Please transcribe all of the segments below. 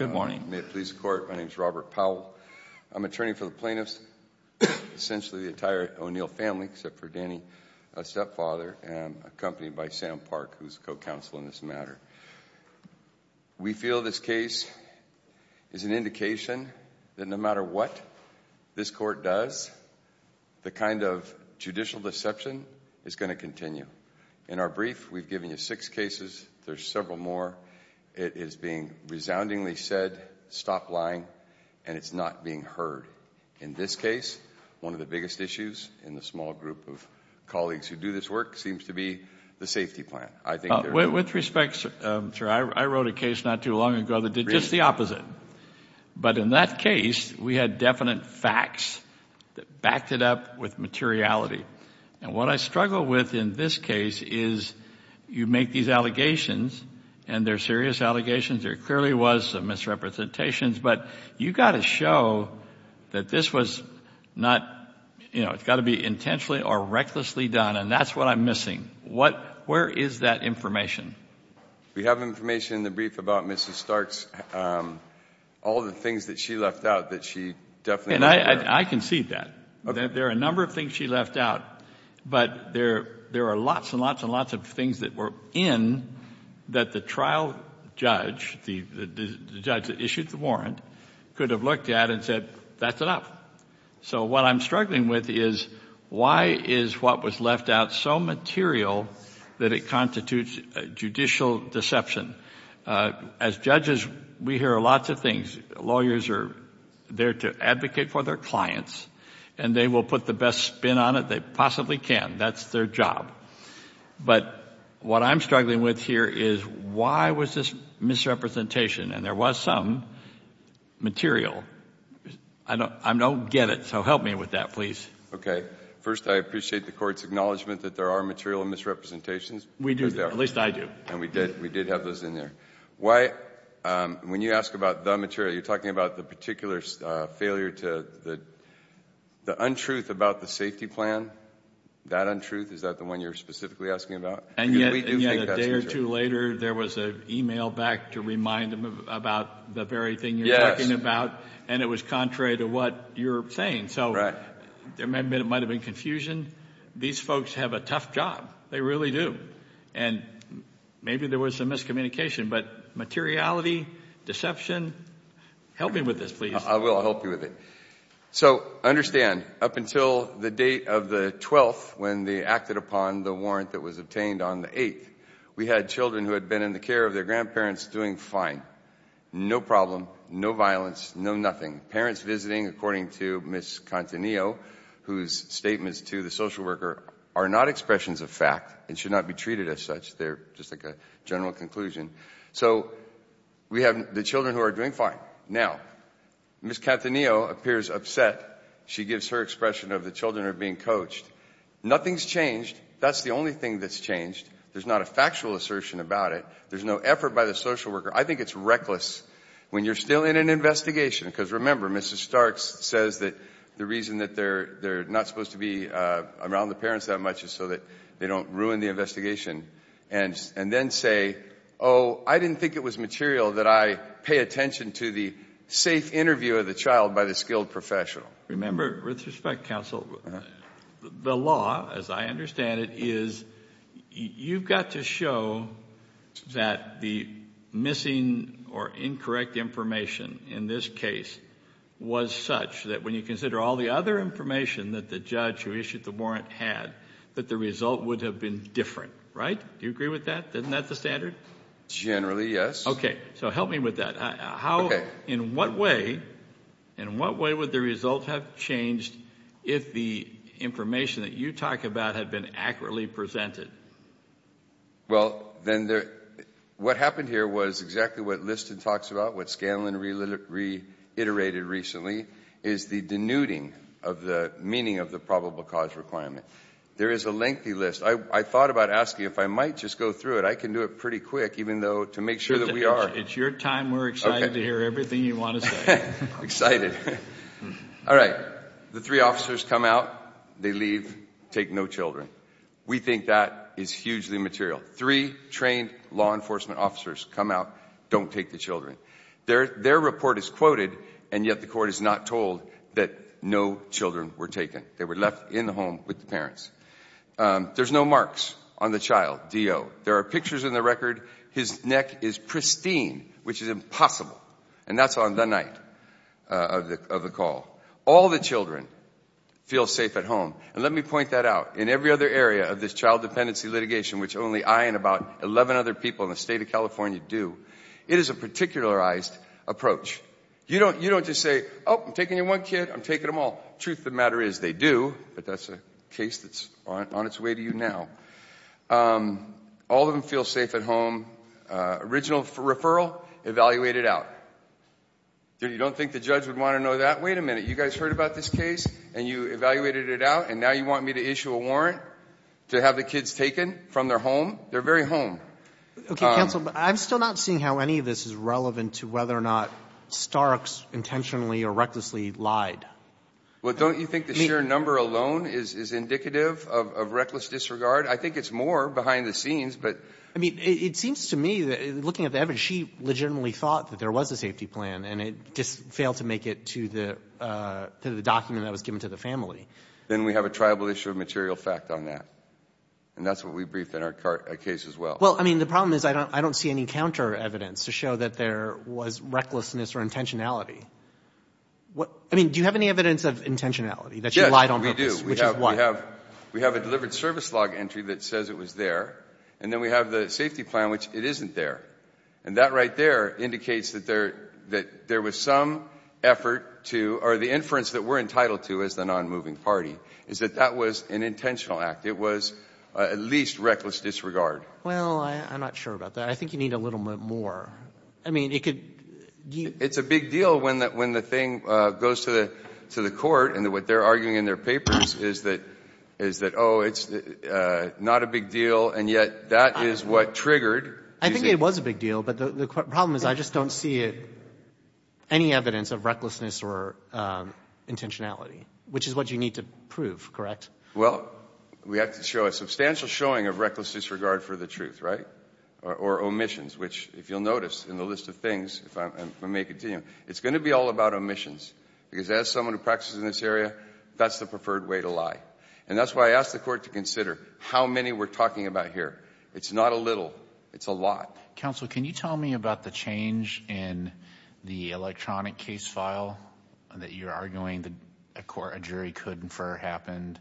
May it please the Court, my name is Robert Powell. I'm attorney for the plaintiffs, essentially the entire O'Neill family, except for Danny, a stepfather, and accompanied by Sam Park, who's co-counsel in this matter. We feel this case is an indication that no matter what this court does, the kind of judicial deception is going to continue. In our brief, we've given you six cases. There's several more. It is being resoundingly said, stop lying, and it's not being heard. In this case, one of the biggest issues in the small group of colleagues who do this work seems to be the safety plan. With respect, sir, I wrote a case not too long ago that did just the opposite. But in that case, we had definite facts that backed it up with materiality. And what I struggle with in this case is you make these allegations, and they're serious allegations. There clearly was some misrepresentations, but you've got to show that this was not, you know, it's got to be intentionally or recklessly done, and that's what I'm missing. Where is that information? We have information in the brief about Mrs. Starks, all the things that she left out that she definitely wasn't aware of. And I can see that. There are a number of things she left out, but there are lots and lots and lots of things that were in that the trial judge, the judge that issued the warrant, could have looked at and said, that's enough. So what I'm struggling with is why is what was left out so material that it constitutes judicial deception? As judges, we hear lots of things. Lawyers are there to advocate for their clients, and they will put the best spin on it they possibly can. That's their job. But what I'm struggling with here is why was this misrepresentation? And there was some material. I don't get it, so help me with that, please. First, I appreciate the court's acknowledgment that there are material misrepresentations. We do. At least I do. And we did have those in there. Why, when you ask about the material, you're talking about the particular failure to, the untruth about the safety plan, that untruth, is that the one you're specifically asking about? And yet a day or two later, there was an email back to remind them about the very thing you're talking about, and it was contrary to what you're saying. So there might have been confusion. These folks have a tough job. They really do. And maybe there was some miscommunication, but materiality, deception, help me with this, please. I will help you with it. So understand, up until the date of the 12th, when they acted upon the warrant that was obtained on the 8th, we had children who had been in the care of their grandparents doing fine. No problem. No violence. No nothing. Parents visiting, according to Ms. Cantanillo, whose statements to the social worker are not expressions of fact and should not be treated as such. They're just like a general conclusion. So we have the children who are doing fine. Now, Ms. Cantanillo appears upset. She gives her expression of the children are being coached. Nothing's changed. That's the only thing that's changed. There's not a factual assertion about it. There's no effort by the social worker. I think it's reckless when you're still in an investigation, because remember, Mrs. Starks says that the reason that they're not supposed to be around the parents that much is so that they don't ruin the investigation, and then say, oh, I didn't think it was material that I pay attention to the safe interview of the child by the skilled professional. Remember, with respect, counsel, the law, as I understand it, is you've got to show that the missing or incorrect information in this case was such that when you consider all the other information that the judge who issued the warrant had, that the result would have been different, right? Do you agree with that? Isn't that the standard? Generally, yes. Okay. So help me with that. In what way would the result have changed if the information that you talk about had been accurately presented? Well, what happened here was exactly what Liston talks about, what Scanlon reiterated recently, is the denuding of the meaning of the probable cause requirement. There is a lengthy list. I thought about asking if I might just go through it. I can do it pretty quick, even though to make sure that we are. It's your time. We're excited to hear everything you want to say. Excited. All right. The three officers come out. They leave, take no children. We think that is hugely material. Three trained law enforcement officers come out, don't take the children. Their report is quoted, and yet the court is not told that no children were taken. They were left in the home with the parents. There's no marks on the child, D.O. There are pictures in the record. His neck is pristine, which is impossible, and that's on the night of the call. All the children feel safe at home. And let me point that out. In every other area of this child dependency litigation, which only I and about 11 other people in the state of California do, it is a particularized approach. You don't just say, oh, I'm taking your one kid. I'm taking them all. The truth of the matter is they do, but that's a case that's on its way to you now. All of them feel safe at home. Original referral evaluated out. You don't think the judge would want to know that? Wait a minute. You guys heard about this case, and you evaluated it out, and now you want me to issue a warrant to have the kids taken from their home? They're very home. Okay, counsel, but I'm still not seeing how any of this is relevant to whether or not Starks intentionally or recklessly lied. Well, don't you think the sheer number alone is indicative of reckless disregard? I think it's more behind the scenes. I mean, it seems to me, looking at the evidence, she legitimately thought that there was a safety plan, and it just failed to make it to the document that was given to the family. Then we have a tribal issue of material fact on that, and that's what we briefed in our case as well. Well, I mean, the problem is I don't see any counter evidence to show that there was recklessness or intentionality. I mean, do you have any evidence of intentionality, that you lied on purpose? Yes, we do. Which is what? We have a delivered service log entry that says it was there, and then we have the safety plan, which it isn't there. And that right there indicates that there was some effort to, or the inference that we're entitled to as the nonmoving party, is that that was an intentional act. It was at least reckless disregard. Well, I'm not sure about that. I think you need a little bit more. I mean, it could be you. It's a big deal when the thing goes to the court, and what they're arguing in their papers is that, oh, it's not a big deal, and yet that is what triggered. I think it was a big deal, but the problem is I just don't see it, any evidence of recklessness or intentionality, which is what you need to prove, correct? Well, we have to show a substantial showing of reckless disregard for the truth, right, or omissions, which, if you'll notice in the list of things, if I may continue, it's going to be all about omissions, because as someone who practices in this area, that's the preferred way to lie. And that's why I asked the court to consider how many we're talking about here. It's not a little. It's a lot. Counsel, can you tell me about the change in the electronic case file that you're arguing a jury could infer happened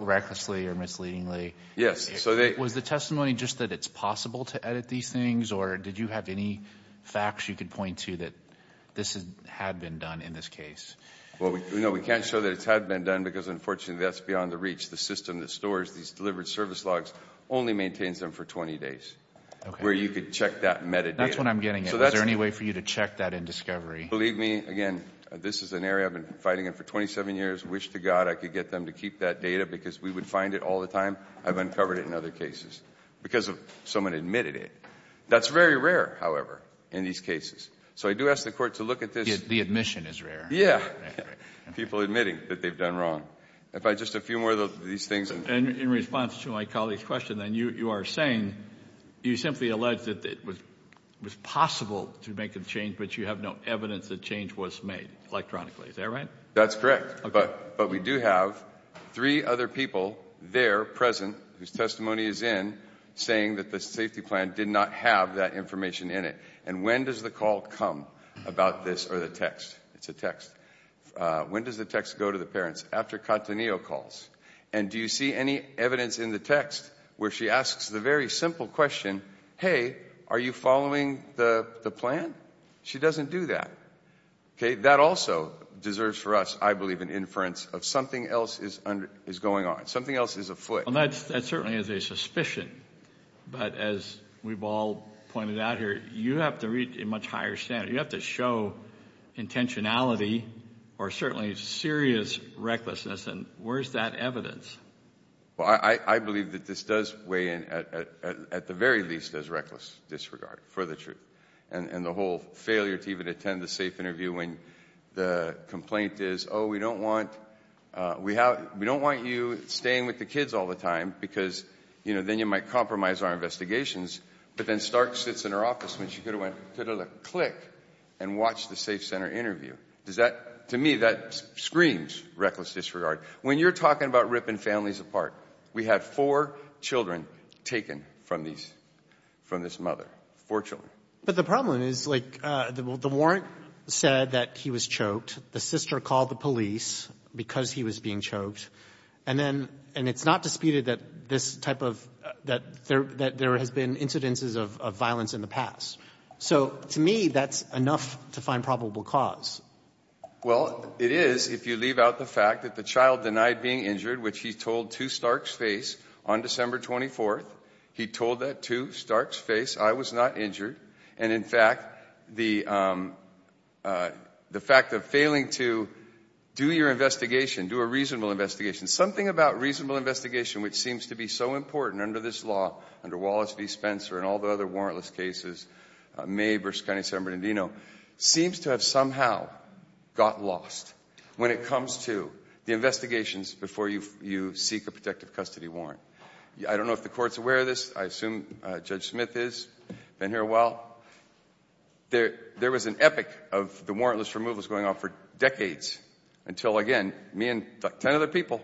recklessly or misleadingly? Yes. Was the testimony just that it's possible to edit these things, or did you have any facts you could point to that this had been done in this case? Well, no, we can't show that it's had been done because, unfortunately, that's beyond the reach. The system that stores these delivered service logs only maintains them for 20 days, where you could check that metadata. That's what I'm getting at. Is there any way for you to check that in discovery? Believe me, again, this is an area I've been fighting in for 27 years. Wish to God I could get them to keep that data because we would find it all the time. I've uncovered it in other cases because someone admitted it. That's very rare, however, in these cases. So I do ask the court to look at this. The admission is rare. Yeah, people admitting that they've done wrong. Just a few more of these things. In response to my colleague's question, then, you are saying, you simply allege that it was possible to make a change, but you have no evidence that change was made electronically. Is that right? That's correct. But we do have three other people there present whose testimony is in saying that the safety plan did not have that information in it. And when does the call come about this or the text? It's a text. When does the text go to the parents? It's after Cattaneo calls. And do you see any evidence in the text where she asks the very simple question, hey, are you following the plan? She doesn't do that. That also deserves for us, I believe, an inference of something else is going on, something else is afoot. That certainly is a suspicion. But as we've all pointed out here, you have to reach a much higher standard. You have to show intentionality or certainly serious recklessness. And where is that evidence? Well, I believe that this does weigh in at the very least as reckless disregard for the truth and the whole failure to even attend the safe interview when the complaint is, oh, we don't want you staying with the kids all the time because, you know, then you might compromise our investigations. But then Stark sits in her office when she could have went, could have clicked and watched the safe center interview. Does that, to me, that screams reckless disregard. When you're talking about ripping families apart, we had four children taken from these, from this mother, four children. But the problem is, like, the warrant said that he was choked. The sister called the police because he was being choked. And then, and it's not disputed that this type of, that there has been incidences of violence in the past. So to me, that's enough to find probable cause. Well, it is if you leave out the fact that the child denied being injured, which he told to Stark's face on December 24th. He told that to Stark's face. I was not injured. And, in fact, the fact of failing to do your investigation, do a reasonable investigation, something about reasonable investigation, which seems to be so important under this law, under Wallace v. Spencer and all the other warrantless cases, May v. Kennedy, San Bernardino, seems to have somehow got lost when it comes to the investigations before you seek a protective custody warrant. I don't know if the Court's aware of this. I assume Judge Smith is. Been here a while. There was an epic of the warrantless removals going on for decades until, again, me and 10 other people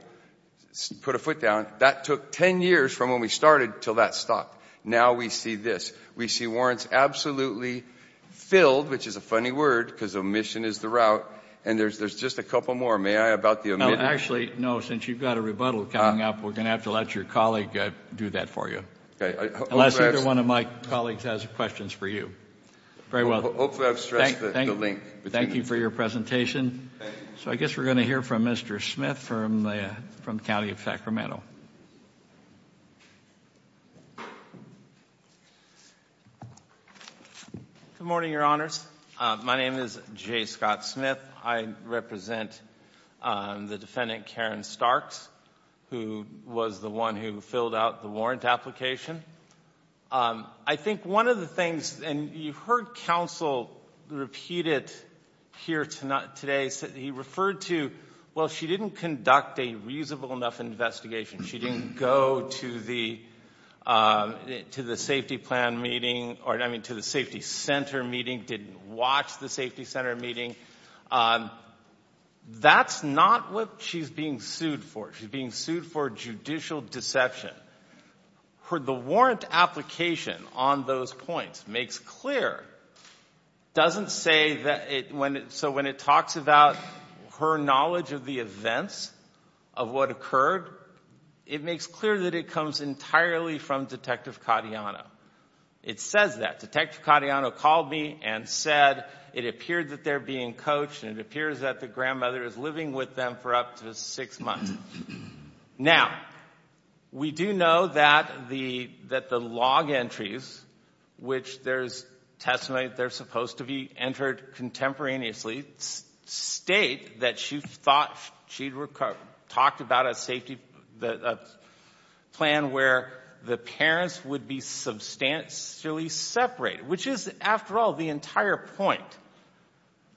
put a foot down. That took 10 years from when we started until that stopped. Now we see this. We see warrants absolutely filled, which is a funny word because omission is the route, and there's just a couple more. May I about the omission? Actually, no, since you've got a rebuttal coming up, we're going to have to let your colleague do that for you. Unless either one of my colleagues has questions for you. Very well. Hopefully I've stressed the link. Thank you for your presentation. So I guess we're going to hear from Mr. Smith from the County of Sacramento. Good morning, Your Honors. My name is J. Scott Smith. I represent the defendant, Karen Starks, who was the one who filled out the warrant application. I think one of the things, and you heard counsel repeat it here today, he referred to, well, she didn't conduct a reasonable enough investigation. She didn't go to the safety center meeting, didn't watch the safety center meeting. That's not what she's being sued for. She's being sued for judicial deception. The warrant application on those points makes clear, doesn't say that it, so when it talks about her knowledge of the events of what occurred, it makes clear that it comes entirely from Detective Cotillano. It says that. Detective Cotillano called me and said it appeared that they're being coached and it appears that the grandmother is living with them for up to six months. Now, we do know that the log entries, which there's testimony that they're supposed to be entered contemporaneously, state that she thought she'd talked about a safety plan where the parents would be substantially separated, which is, after all, the entire point.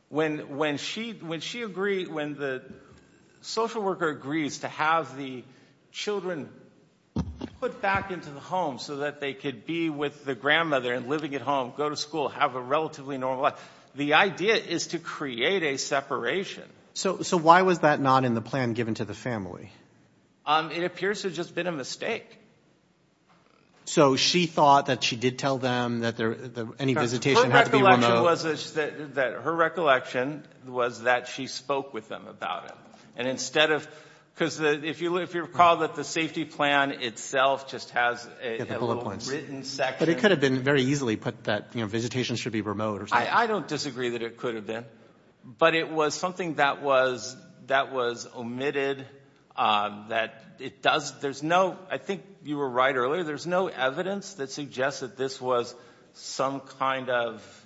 When she agreed, when the social worker agrees to have the children put back into the home so that they could be with the grandmother and living at home, go to school, have a relatively normal life, the idea is to create a separation. So why was that not in the plan given to the family? It appears to have just been a mistake. So she thought that she did tell them that any visitation had to be remote? Her recollection was that she spoke with them about it. And instead of, because if you recall that the safety plan itself just has a little written section. But it could have been very easily put that visitation should be remote or something. I don't disagree that it could have been. But it was something that was omitted, that it does, there's no, I think you were right earlier, there's no evidence that suggests that this was some kind of,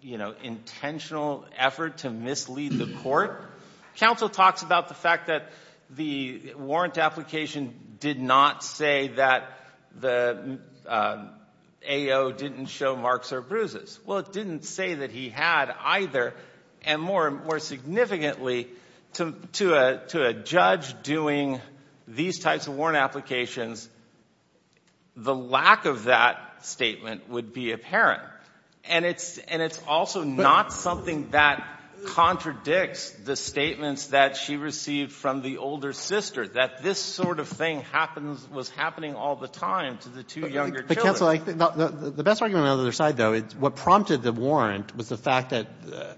you know, intentional effort to mislead the court. Counsel talks about the fact that the warrant application did not say that the AO didn't show marks or bruises. Well, it didn't say that he had either. And more significantly, to a judge doing these types of warrant applications, the lack of that statement would be apparent. And it's also not something that contradicts the statements that she received from the older sister, that this sort of thing happens, was happening all the time to the two younger children. Counsel, the best argument on the other side, though, what prompted the warrant was the fact that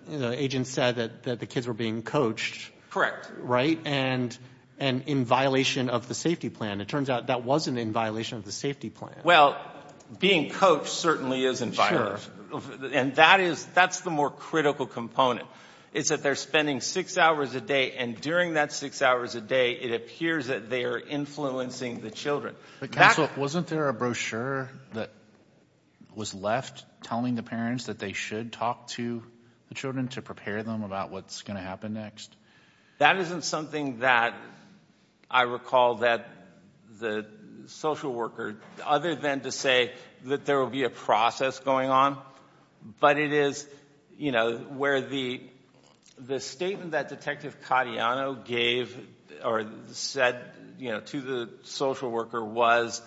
the agent said that the kids were being coached. Correct. Right? And in violation of the safety plan. It turns out that wasn't in violation of the safety plan. Well, being coached certainly is in violation. Sure. And that is, that's the more critical component, is that they're spending six hours a day, and during that six hours a day it appears that they are influencing the children. Counsel, wasn't there a brochure that was left telling the parents that they should talk to the children to prepare them about what's going to happen next? That isn't something that I recall that the social worker, other than to say that there will be a process going on, but it is, you know, where the statement that Detective Cadiano gave or said, you know, to the social worker was,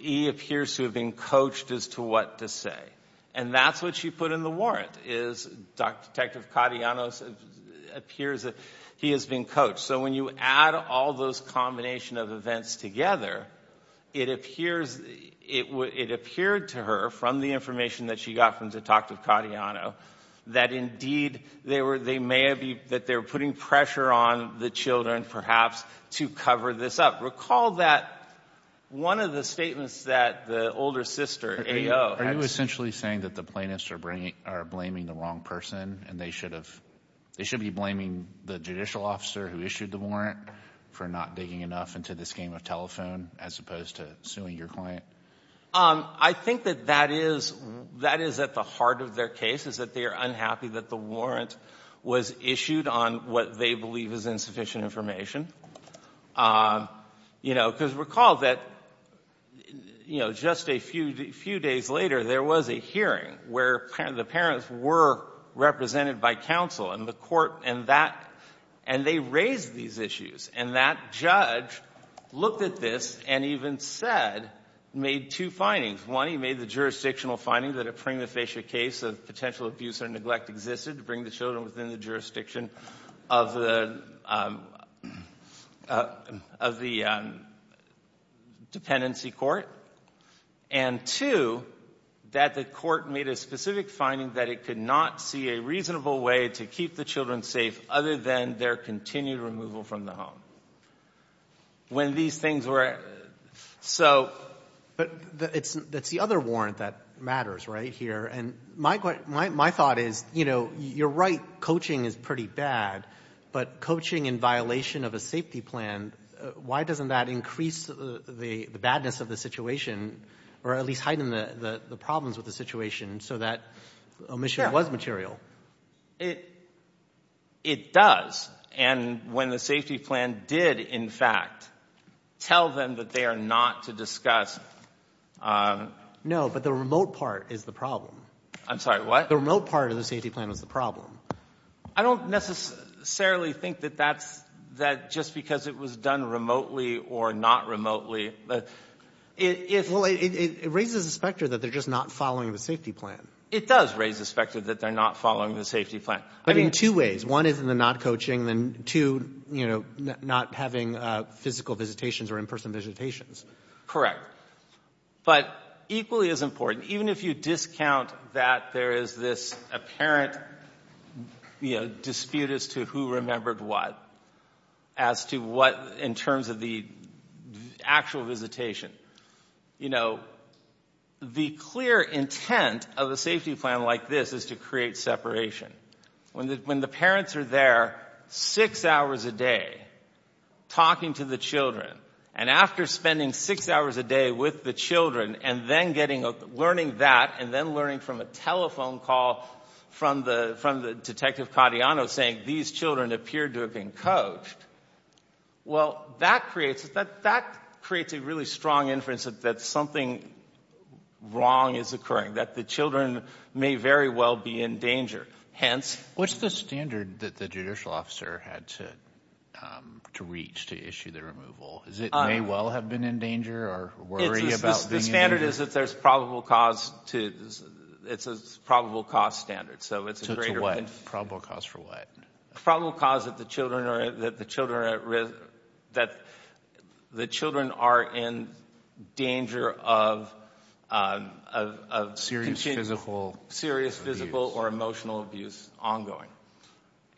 he appears to have been coached as to what to say. And that's what she put in the warrant, is Detective Cadiano appears that he has been coached. So when you add all those combination of events together, it appears, it appeared to her from the information that she got from Detective Cadiano, that indeed they were, they may have been, that they were putting pressure on the children perhaps to cover this up. Recall that one of the statements that the older sister, AO, had. Are you essentially saying that the plaintiffs are blaming the wrong person, and they should have, they should be blaming the judicial officer who issued the warrant for not digging enough into this game of telephone, as opposed to suing your client? I think that that is, that is at the heart of their case, is that they are unhappy that the warrant was issued on what they believe is insufficient information. You know, because recall that, you know, just a few days later, there was a hearing where the parents were represented by counsel, and the court and that, and they raised these issues. And that judge looked at this and even said, made two findings. One, he made the jurisdictional finding that a prima facie case of potential abuse or neglect existed to bring the children within the jurisdiction of the, of the dependency court. And two, that the court made a specific finding that it could not see a reasonable way to keep the children safe other than their continued removal from the home. When these things were, so. But that's the other warrant that matters right here. And my thought is, you know, you're right, coaching is pretty bad. But coaching in violation of a safety plan, why doesn't that increase the badness of the situation, or at least heighten the problems with the situation so that omission was material? It, it does. And when the safety plan did, in fact, tell them that they are not to discuss. No, but the remote part is the problem. I'm sorry, what? The remote part of the safety plan was the problem. I don't necessarily think that that's, that just because it was done remotely or not remotely. It raises the specter that they're just not following the safety plan. It does raise the specter that they're not following the safety plan. But in two ways. One is in the not coaching. And two, you know, not having physical visitations or in-person visitations. Correct. But equally as important, even if you discount that there is this apparent, you know, dispute as to who remembered what, as to what in terms of the actual visitation. You know, the clear intent of a safety plan like this is to create separation. When the parents are there six hours a day talking to the children, and after spending six hours a day with the children and then getting a, learning that and then learning from a telephone call from the, from the Detective Cardiano saying these children appeared to have been coached. Well, that creates, that creates a really strong inference that something wrong is occurring. That the children may very well be in danger. Hence. What's the standard that the judicial officer had to reach to issue the removal? Is it may well have been in danger or worry about being in danger? The standard is that there's probable cause to, it's a probable cause standard. So it's a greater. So to what? Probable cause for what? Probable cause that the children are, that the children are at risk, that the children are in danger of, of, of. Serious physical. Serious physical or emotional abuse ongoing.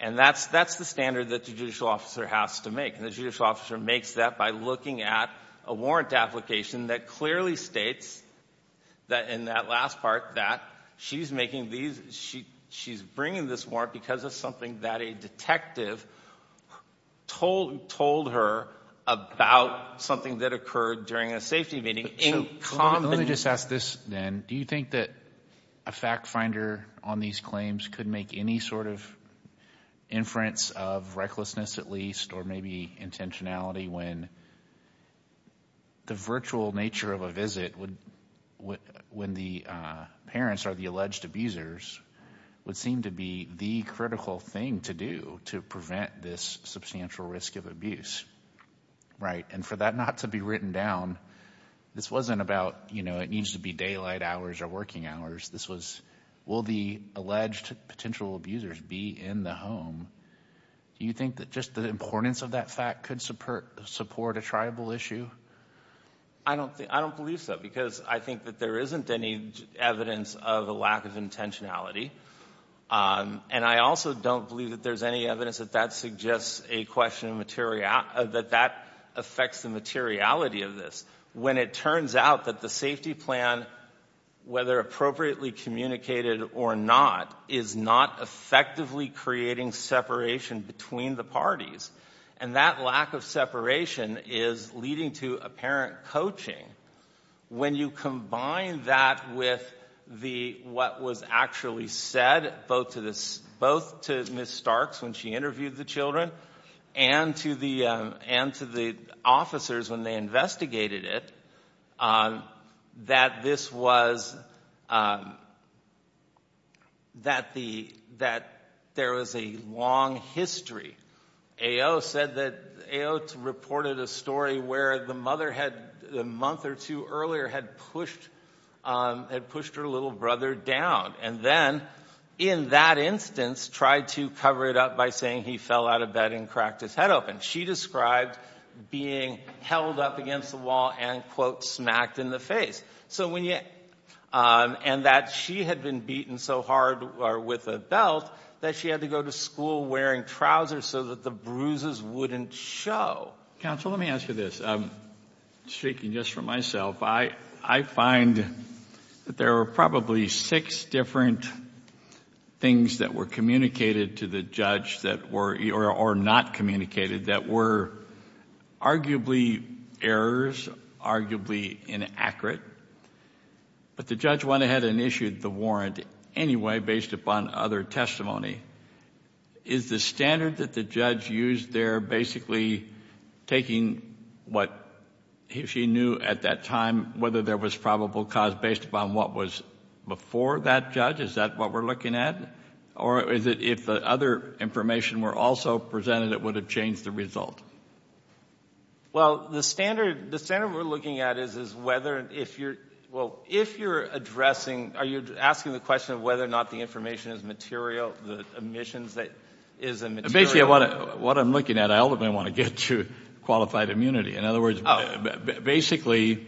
And that's, that's the standard that the judicial officer has to make. And the judicial officer makes that by looking at a warrant application that clearly states that, in that last part that she's making these, she's bringing this warrant because of something that a detective told, told her about something that occurred during a safety meeting. Let me just ask this then. Do you think that a fact finder on these claims could make any sort of inference of recklessness at least, or maybe intentionality when the virtual nature of a visit would, when the parents or the alleged abusers would seem to be the critical thing to do to prevent this substantial risk of abuse, right? And for that not to be written down, this wasn't about, you know, it needs to be daylight hours or working hours. This was, will the alleged potential abusers be in the home? Do you think that just the importance of that fact could support a tribal issue? I don't think, I don't believe so, because I think that there isn't any evidence of a lack of intentionality. And I also don't believe that there's any evidence that that suggests a question of material, that that affects the materiality of this. When it turns out that the safety plan, whether appropriately communicated or not, is not effectively creating separation between the parties. And that lack of separation is leading to apparent coaching. When you combine that with the, what was actually said, both to Ms. Starks when she interviewed the children, and to the officers when they investigated it, that this was, that there was a long history, A.O. said that, A.O. reported a story where the mother had, a month or two earlier had pushed, had pushed her little brother down. And then in that instance tried to cover it up by saying he fell out of bed and cracked his head open. She described being held up against the wall and, quote, smacked in the face. So when you, and that she had been beaten so hard with a belt that she had to go to school wearing trousers so that the bruises wouldn't show. Counsel, let me ask you this. Speaking just for myself, I find that there are probably six different things that were communicated to the judge that were, or not communicated, that were arguably errors, arguably inaccurate. But the judge went ahead and issued the warrant anyway based upon other testimony. Is the standard that the judge used there basically taking what she knew at that time, whether there was probable cause based upon what was before that judge? Is that what we're looking at? Or is it if the other information were also presented it would have changed the result? Well, the standard we're looking at is whether, if you're, well, if you're addressing, are you asking the question of whether or not the information is material, the omissions that is a material? Basically what I'm looking at, I ultimately want to get to qualified immunity. In other words, basically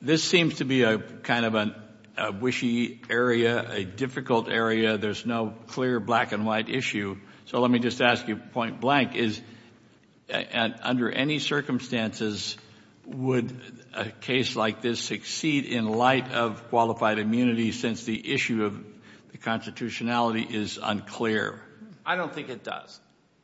this seems to be a kind of a wishy area, a difficult area. There's no clear black and white issue. So let me just ask you, point blank, is under any circumstances would a case like this succeed in light of qualified immunity since the issue of the constitutionality is unclear? I don't think it does.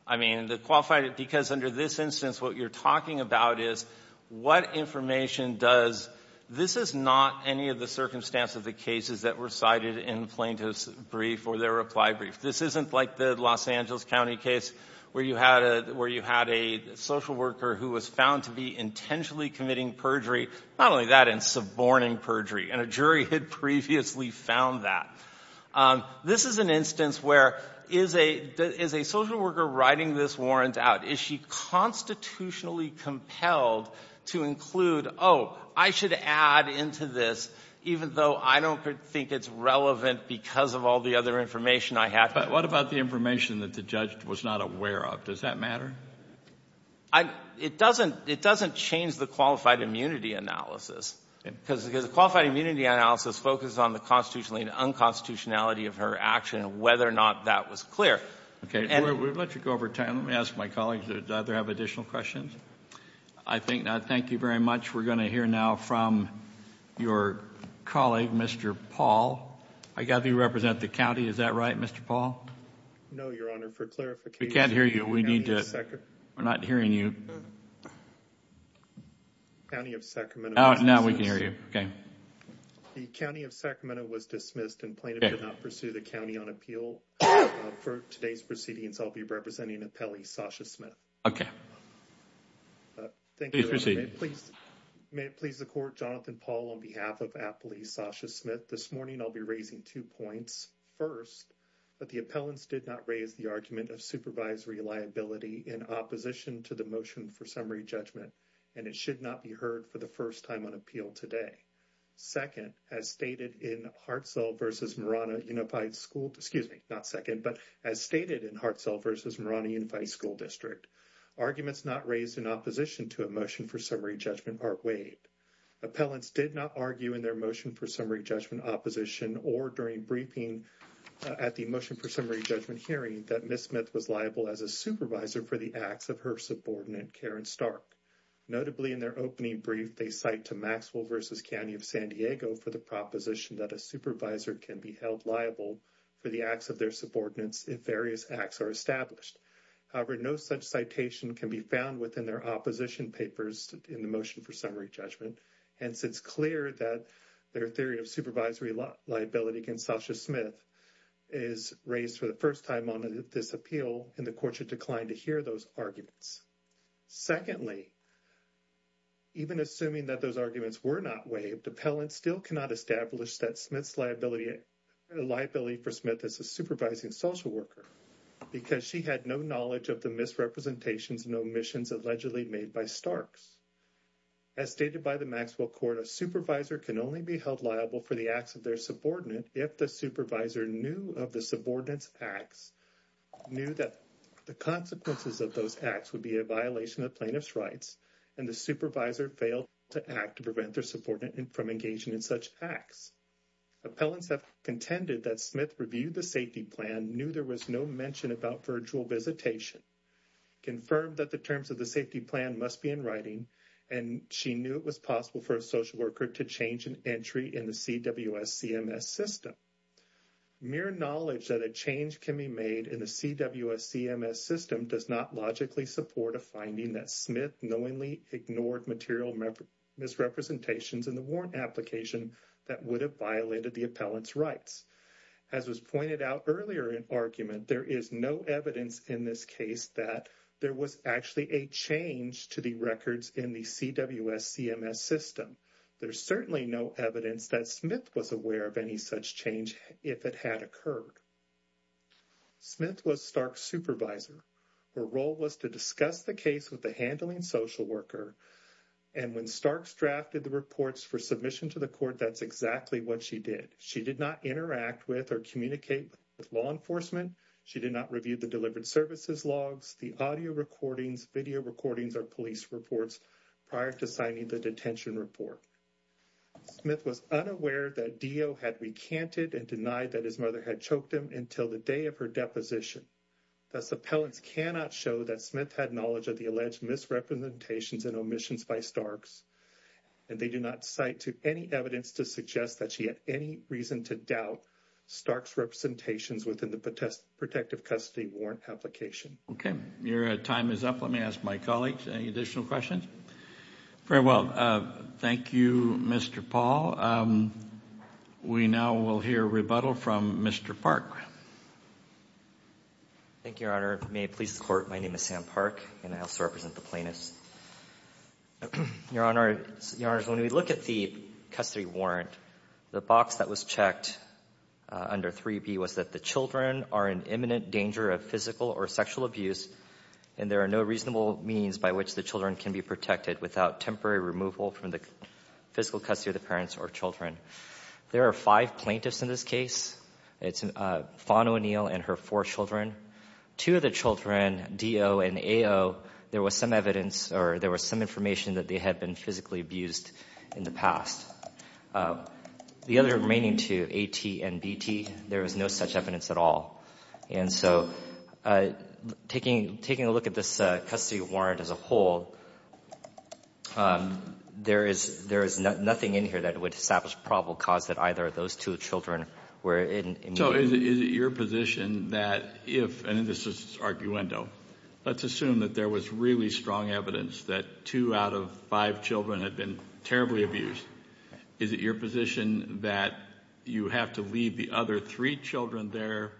I mean, the qualified, because under this instance what you're talking about is what information does, this is not any of the circumstances of the cases that were cited in plaintiff's brief or their reply brief. This isn't like the Los Angeles County case where you had a social worker who was found to be intentionally committing perjury, not only that, and suborning perjury. And a jury had previously found that. This is an instance where is a social worker writing this warrant out? Is she constitutionally compelled to include, oh, I should add into this, even though I don't think it's relevant because of all the other information I have. But what about the information that the judge was not aware of? Does that matter? It doesn't change the qualified immunity analysis. Because a qualified immunity analysis focuses on the constitutionality and unconstitutionality of her action and whether or not that was clear. Okay. We'll let you go over time. Let me ask my colleagues, do either have additional questions? I think not. Thank you very much. We're going to hear now from your colleague, Mr. Paul. I gather you represent the county. Is that right, Mr. Paul? No, Your Honor. For clarification. We can't hear you. We're not hearing you. County of Sacramento. Now we can hear you. Okay. The County of Sacramento was dismissed and plaintiff did not pursue the county on appeal. For today's proceedings, I'll be representing appellee Sasha Smith. Okay. Please proceed. May it please the court. Jonathan Paul on behalf of appellee Sasha Smith. This morning, I'll be raising two points. First, that the appellants did not raise the argument of supervisory liability in opposition to the motion for summary judgment. And it should not be heard for the first time on appeal today. Second, as stated in Hartsell versus Marana Unified School, excuse me, not second, but as stated in Hartsell versus Marana Unified School District, arguments not raised in opposition to a motion for summary judgment are waived. Appellants did not argue in their motion for summary judgment opposition or during briefing at the motion for summary judgment hearing that Ms. Smith was liable as a supervisor for the acts of her subordinate, Karen Stark. Notably, in their opening brief, they cite to Maxwell versus County of San Diego for the proposition that a supervisor can be held liable for the acts of their subordinates if various acts are established. However, no such citation can be found within their opposition papers in the motion for summary judgment. Hence, it's clear that their theory of supervisory liability against Sasha Smith is raised for the first time on this appeal and the court should decline to hear those arguments. Secondly, even assuming that those arguments were not waived, appellants still cannot establish that Smith's liability for Smith is a supervising social worker because she had no knowledge of the misrepresentations and omissions allegedly made by Starks. As stated by the Maxwell Court, a supervisor can only be held liable for the acts of their subordinate if the supervisor knew of the subordinate's acts, knew that the consequences of those acts would be a violation of plaintiff's rights and the supervisor failed to act to prevent their subordinate from engaging in such acts. Appellants have contended that Smith reviewed the safety plan, knew there was no mention about virtual visitation, confirmed that the terms of the safety plan must be in writing, and she knew it was possible for a social worker to change an entry in the CWS CMS system. Mere knowledge that a change can be made in the CWS CMS system does not logically support a finding that Smith knowingly ignored material misrepresentations in the warrant application that would have violated the appellant's rights. As was pointed out earlier in argument, there is no evidence in this case that there was actually a change to the records in the CWS CMS system. There's certainly no evidence that Smith was aware of any such change if it had occurred. Smith was Stark's supervisor. Her role was to discuss the case with the handling social worker, and when Stark drafted the reports for submission to the court, that's exactly what she did. She did not interact with or communicate with law enforcement. She did not review the delivered services logs, the audio recordings, video recordings, or police reports prior to signing the detention report. Smith was unaware that Dio had recanted and denied that his mother had choked him until the day of her deposition. Thus, appellants cannot show that Smith had knowledge of the alleged misrepresentations and omissions by Starks, and they do not cite any evidence to suggest that she had any reason to doubt Stark's representations within the protective custody warrant application. Okay, your time is up. Let me ask my colleagues any additional questions. Very well. Thank you, Mr. Paul. We now will hear rebuttal from Mr. Park. Thank you, Your Honor. May it please the Court, my name is Sam Park, and I also represent the plaintiffs. Your Honor, when we look at the custody warrant, the box that was checked under 3b was that the children are in imminent danger of physical or sexual abuse, and there are no reasonable means by which the children can be protected without temporary removal from the physical custody of the parents or children. There are five plaintiffs in this case. It's Fawn O'Neill and her four children. Two of the children, Dio and Ayo, there was some evidence or there was some information that they had been physically abused in the past. The other remaining two, A.T. and B.T., there was no such evidence at all. And so taking a look at this custody warrant as a whole, there is nothing in here that would establish probable cause that either of those two children were in. So is it your position that if, and this is arguendo, let's assume that there was really strong evidence that two out of five children had been terribly abused, is it your position that you have to leave the other three children there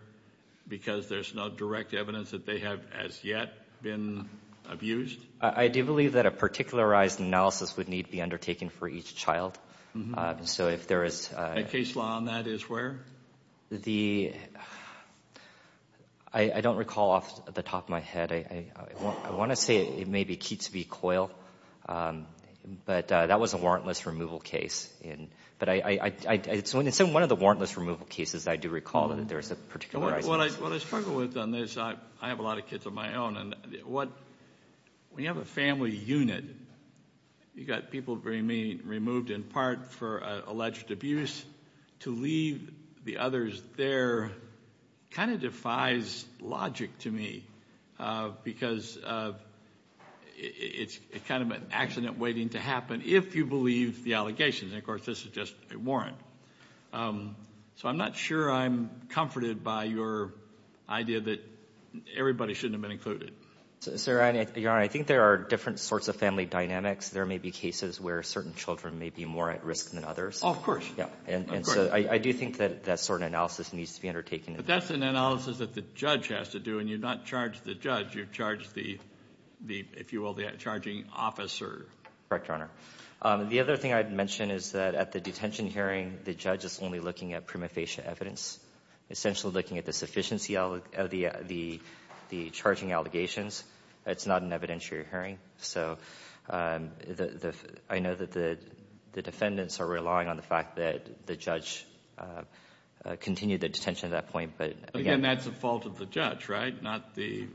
because there's no direct evidence that they have as yet been abused? I do believe that a particularized analysis would need to be undertaken for each child. So if there is a case law on that is where? I don't recall off the top of my head. I want to say it may be Keats v. Coyle, but that was a warrantless removal case. But it's in one of the warrantless removal cases I do recall that there is a particularized analysis. What I struggle with on this, I have a lot of kids of my own, and when you have a family unit, you've got people being removed in part for alleged abuse. To leave the others there kind of defies logic to me because it's kind of an accident waiting to happen if you believe the allegations. And, of course, this is just a warrant. So I'm not sure I'm comforted by your idea that everybody shouldn't have been included. Your Honor, I think there are different sorts of family dynamics. There may be cases where certain children may be more at risk than others. Oh, of course. And so I do think that that sort of analysis needs to be undertaken. But that's an analysis that the judge has to do, and you've not charged the judge. You've charged the, if you will, the charging officer. Correct, Your Honor. The other thing I'd mention is that at the detention hearing, the judge is only looking at prima facie evidence, essentially looking at the sufficiency of the charging allegations. It's not an evidentiary hearing. So I know that the defendants are relying on the fact that the judge continued the detention at that point. Again, that's the fault of the judge, right, not the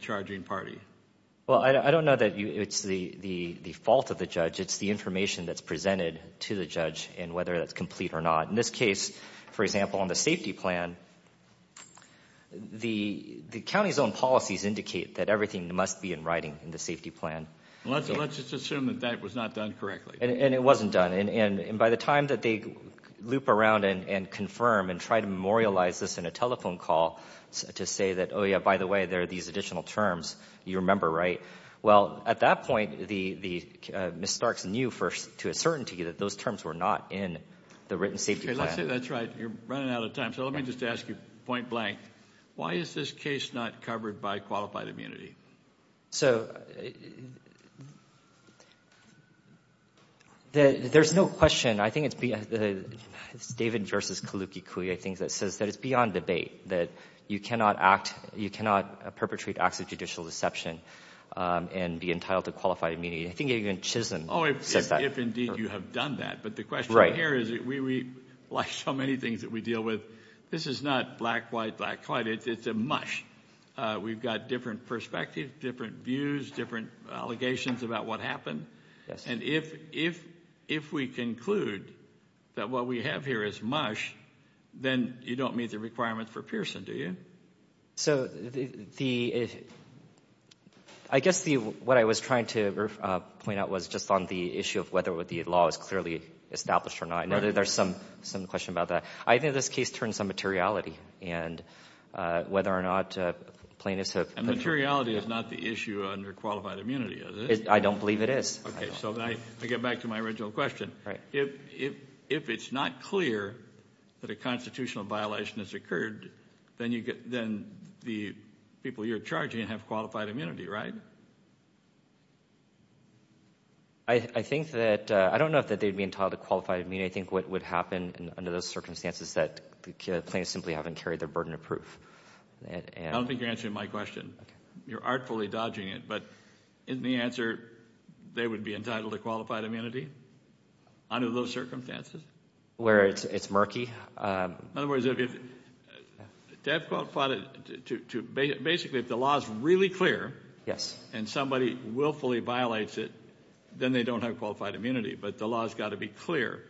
charging party. Well, I don't know that it's the fault of the judge. It's the information that's presented to the judge and whether that's complete or not. In this case, for example, on the safety plan, the county's own policies indicate that everything must be in writing in the safety plan. Let's just assume that that was not done correctly. And it wasn't done. And by the time that they loop around and confirm and try to memorialize this in a telephone call to say that, oh, yeah, by the way, there are these additional terms, you remember, right? Well, at that point, Ms. Starks knew to a certainty that those terms were not in the written safety plan. That's right. You're running out of time. So let me just ask you point blank. Why is this case not covered by qualified immunity? So there's no question. I think it's David versus Kaluki-Kui, I think, that says that it's beyond debate, that you cannot act, you cannot perpetrate acts of judicial deception and be entitled to qualified immunity. I think even Chisholm says that. Oh, if indeed you have done that. But the question here is, like so many things that we deal with, this is not black, white, black, white. It's a mush. We've got different perspectives, different views, different allegations about what happened. And if we conclude that what we have here is mush, then you don't meet the requirements for Pearson, do you? So I guess what I was trying to point out was just on the issue of whether the law is clearly established or not. I know that there's some question about that. I think this case turns on materiality and whether or not plaintiffs have been. And materiality is not the issue under qualified immunity, is it? I don't believe it is. Okay. So I get back to my original question. If it's not clear that a constitutional violation has occurred, then the people you're charging have qualified immunity, right? I don't know if they'd be entitled to qualified immunity. I think what would happen under those circumstances is that the plaintiffs simply haven't carried their burden of proof. I don't think you're answering my question. You're artfully dodging it. But isn't the answer they would be entitled to qualified immunity? Under those circumstances? Where it's murky. In other words, basically if the law is really clear and somebody willfully violates it, then they don't have qualified immunity. But the law has got to be clear.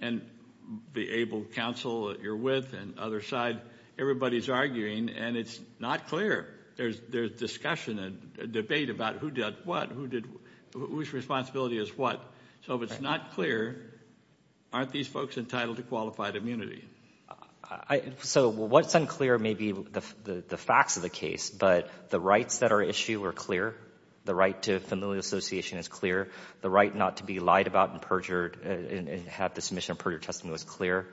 And the able counsel that you're with and other side, everybody's arguing, and it's not clear. There's discussion and debate about who did what, whose responsibility is what. So if it's not clear, aren't these folks entitled to qualified immunity? So what's unclear may be the facts of the case, but the rights that are at issue are clear. The right to familial association is clear. The right not to be lied about and perjured and have the submission of perjured testimony was clear.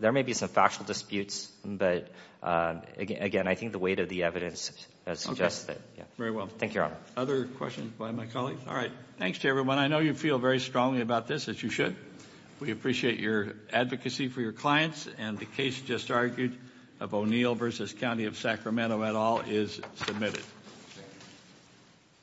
There may be some factual disputes, but, again, I think the weight of the evidence suggests that. Okay. Very well. Thank you, Your Honor. Other questions by my colleagues? All right. Thanks to everyone. I know you feel very strongly about this, as you should. We appreciate your advocacy for your clients. And the case just argued of O'Neill v. County of Sacramento et al. is submitted.